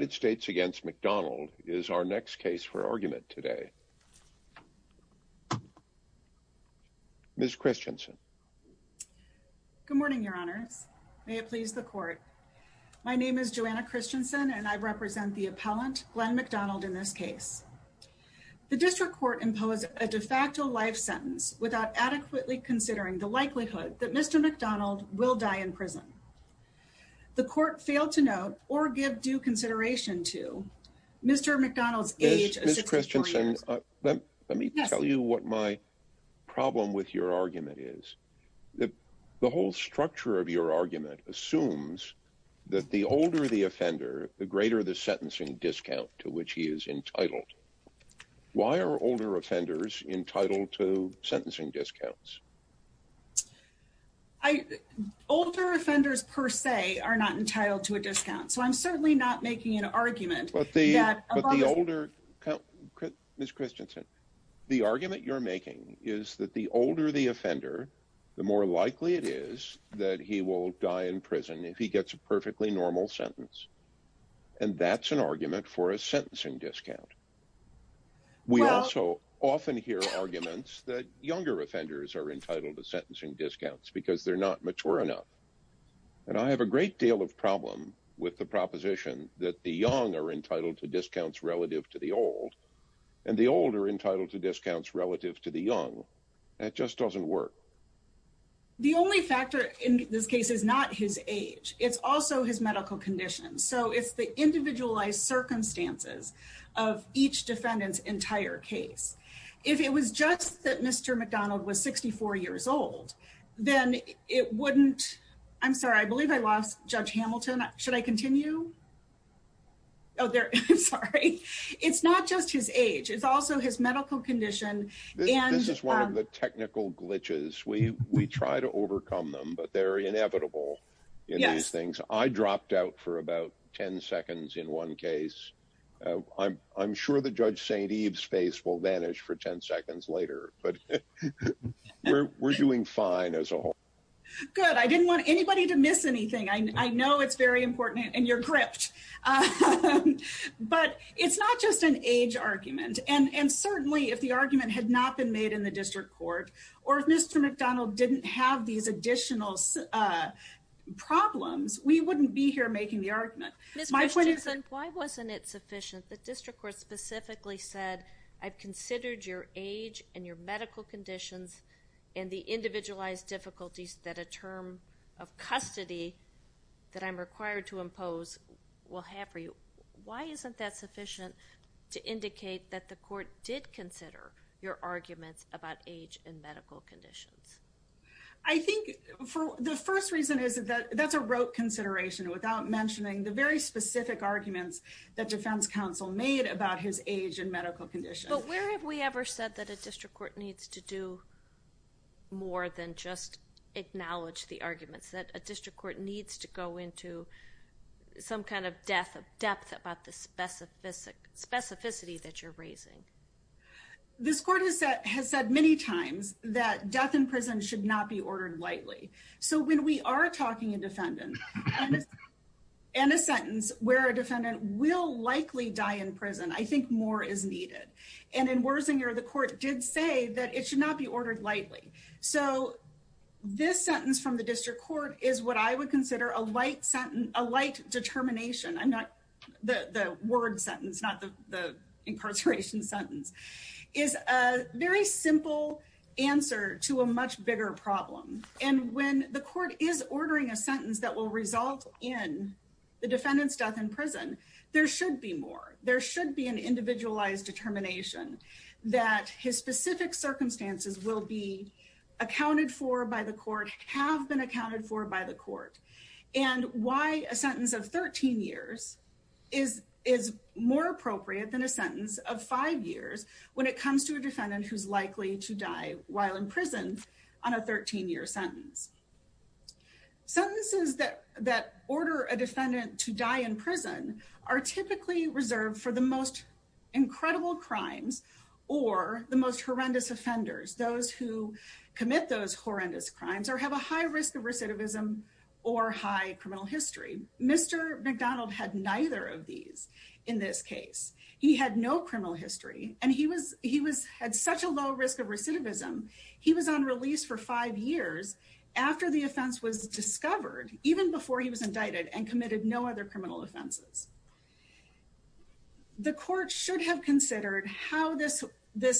United States v. McDonald is our next case for argument today. Ms. Christensen. Good morning, Your Honors. May it please the Court. My name is Joanna Christensen, and I represent the appellant, Glenn McDonald, in this case. The District Court imposed a de facto life sentence without adequately considering the likelihood that Mr. McDonald will die in prison. The Court failed to note or give due consideration to Mr. McDonald's age of 64 years. Ms. Christensen, let me tell you what my problem with your argument is. The whole structure of your argument assumes that the older the offender, the greater the sentencing discount to which he is entitled. Why are older offenders entitled to sentencing discounts? Older offenders, per se, are not entitled to a discount, so I'm certainly not making an argument that a lot of the... But the older... Ms. Christensen, the argument you're making is that the older the offender, the more likely it is that he will die in prison if he gets a perfectly normal sentence. And that's an argument for a sentencing discount. We also often hear arguments that younger offenders are entitled to sentencing discounts because they're not mature enough. And I have a great deal of problem with the proposition that the young are entitled to discounts relative to the old, and the old are entitled to discounts relative to the young. That just doesn't work. The only factor in this case is not his age. It's also his medical condition. So it's the individualized circumstances of each defendant's entire case. If it was just that Mr. McDonald was 64 years old, then it wouldn't... I'm sorry, I believe I lost Judge Hamilton. Should I continue? Oh, there... I'm sorry. It's not just his age. It's also his medical condition and... This is one of the technical glitches. We try to overcome them, but they're inevitable in these things. I dropped out for about 10 seconds in one case. I'm sure that Judge St. Eve's face will vanish for 10 seconds later, but we're doing fine as a whole. Good. I didn't want anybody to miss anything. I know it's very important and you're gripped. But it's not just an age argument. And certainly if the argument had not been made in the district court, or if Mr. McDonald didn't have these additional problems, we wouldn't be here making the argument. My point is... Ms. Richardson, why wasn't it sufficient that district court specifically said, I've considered your age and your medical conditions and the individualized difficulties that a term of custody that I'm required to impose will have for you. Why isn't that sufficient to indicate that the court did consider your arguments about age and medical conditions? I think the first reason is that that's a rote consideration without mentioning the very specific arguments that defense counsel made about his age and medical conditions. But where have we ever said that a district court needs to do more than just acknowledge the arguments? That a district court needs to go into some kind of depth about the specificity that you're raising? This court has said many times that death in prison should not be ordered lightly. So when we are talking a defendant, and a sentence where a defendant will likely die in prison, I think more is needed. And in Wersinger, the court did say that it should not be ordered lightly. So this sentence from the district court is what I would consider a light determination. The word sentence, not the incarceration sentence, is a very simple answer to a much bigger problem. And when the court is ordering a sentence that will result in the defendant's death in prison, there should be more. There should be an individualized determination that his specific circumstances will be accounted for by the court, have been accounted for by the court. And why a sentence of 13 years is more appropriate than a sentence of five years when it comes to a defendant who's likely to die while in prison on a 13-year sentence. Sentences that order a defendant to die in prison are typically reserved for the most incredible crimes or the most horrendous offenders, those who commit those horrendous crimes or have a high risk of recidivism or high criminal history. Mr. McDonald had neither of these in this case. He had no criminal history, and he had such a low risk of recidivism, he was on release for five years after the offense was discovered, even before he was indicted and committed no other criminal offenses. The court should have considered how this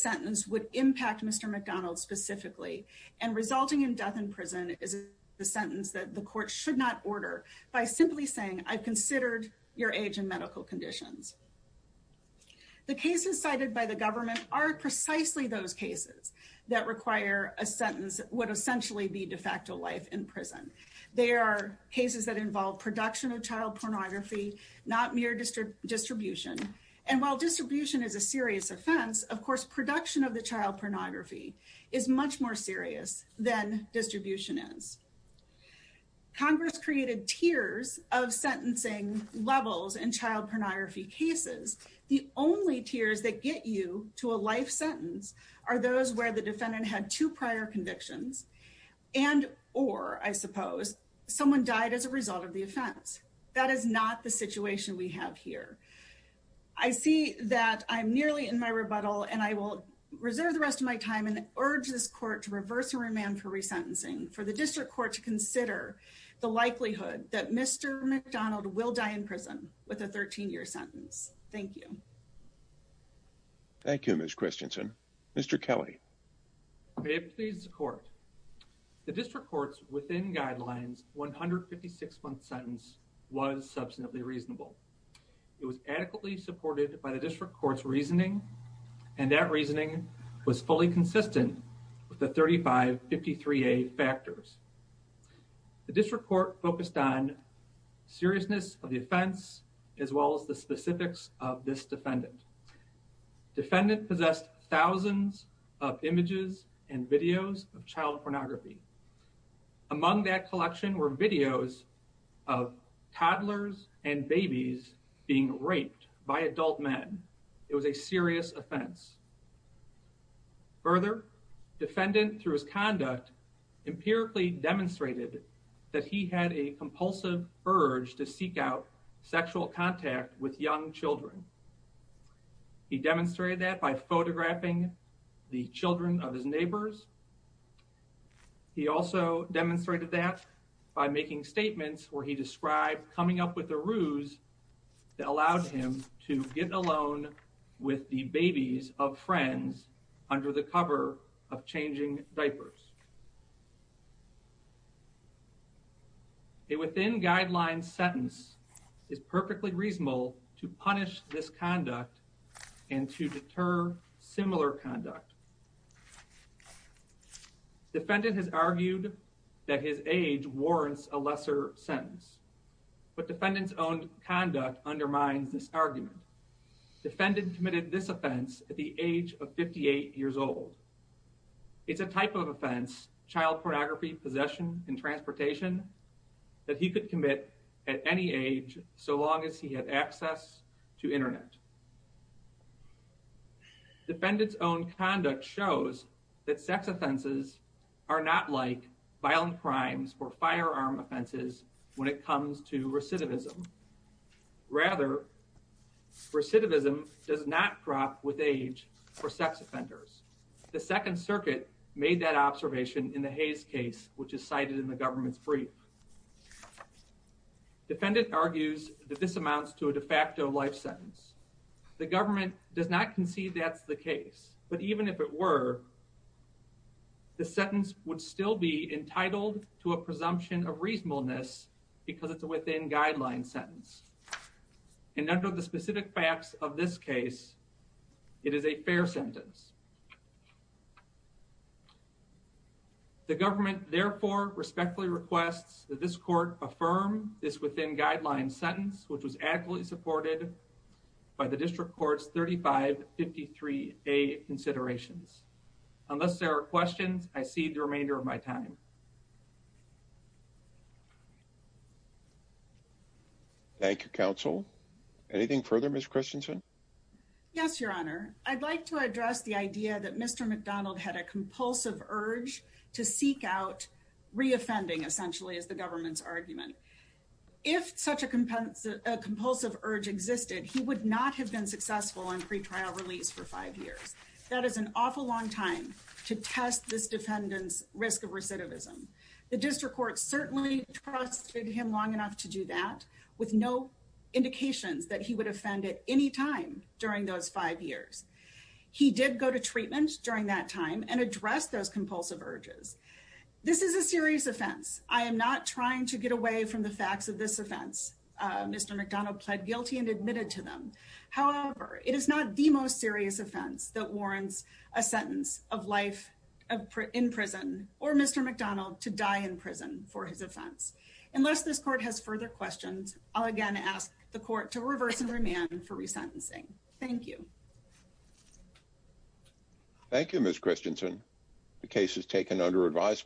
sentence would impact Mr. McDonald specifically and resulting in death in prison is a sentence that the court should not order by simply saying I've considered your age and medical conditions. The cases cited by the government are precisely those cases that require a sentence would essentially be de facto life in prison. They are cases that involve production of child pornography, not mere distribution. And while distribution is a serious offense, of course, production of the child pornography is much more serious than distribution is. Congress created tiers of sentencing levels and child pornography cases. The only tiers that get you to a life sentence are those where the defendant had two prior convictions and or I suppose someone died as a result of the offense. That is not the situation we have here. I see that I'm nearly in my rebuttal and I will reserve the rest of my time and urge this court to reverse the remand for resentencing for the district court to consider the likelihood that Mr. McDonald will die in prison with a 13-year sentence. Thank you. Thank you, Ms. Christensen. Mr. Kelly. May it please the court. The district court's within guidelines 156-month sentence was subsequently reasonable. It was adequately supported by the district court's reasoning and that reasoning was fully consistent with the 3553A factors. The district court focused on seriousness of the offense as well as the specifics of this defendant. Defendant possessed thousands of images and videos of child pornography. Among that collection were videos of toddlers and babies being raped by adult men. It was a serious offense. Further, defendant through his conduct empirically demonstrated that he had a compulsive urge to seek out sexual contact with young children. He demonstrated that by photographing the children of his neighbors. He also demonstrated that by making statements where he described coming up with a ruse that allowed him to get alone with the babies of friends under the cover of changing diapers. A within guidelines sentence is perfectly reasonable to punish this conduct and to deter similar conduct. Defendant has argued that his age warrants a lesser sentence, but defendant's own conduct undermines this argument. Defendant committed this offense at the age of 58 years old. It's a type of offense, child pornography, possession, and transportation that he could commit at any age so long as he had access to internet. Defendant's own conduct shows that sex offenses are not like violent crimes or firearm offenses when it comes to recidivism. Rather, recidivism does not crop with age for sex offenders. The Second Circuit made that observation in the Hayes case, which is cited in the government's brief. Defendant argues that this amounts to a de facto life sentence. The government does not concede that's the case, but even if it were, the sentence would still be entitled to a presumption of reasonableness because it's a within guidelines sentence. And under the specific facts of this case, it is a fair sentence. The government therefore respectfully requests that this court affirm this within guidelines sentence, which was adequately supported by the district court's 3553A considerations. Unless there are questions, I cede the remainder of my time. Thank you, counsel. Anything further? Ms. Christensen? Yes, Your Honor. I'd like to address the idea that Mr. McDonald had a compulsive urge to seek out reoffending essentially as the government's argument. If such a compulsive urge existed, he would not have been successful in pretrial release for five years. That is an awful long time to test this defendant's risk of recidivism. The district court certainly trusted him long enough to do that with no indications that he would offend at any time during those five years. He did go to treatment during that time and address those compulsive urges. This is a serious offense. I am not trying to get away from the facts of this offense. Mr. McDonald pled guilty and admitted to them. However, it is not the most serious offense that warrants a sentence of life in prison or Mr. McDonald to die in prison for his offense. Unless this court has further questions, I'll again ask the court to reverse and remand for resentencing. Thank you. Thank you, Ms. Christensen. The case is taken under advisement.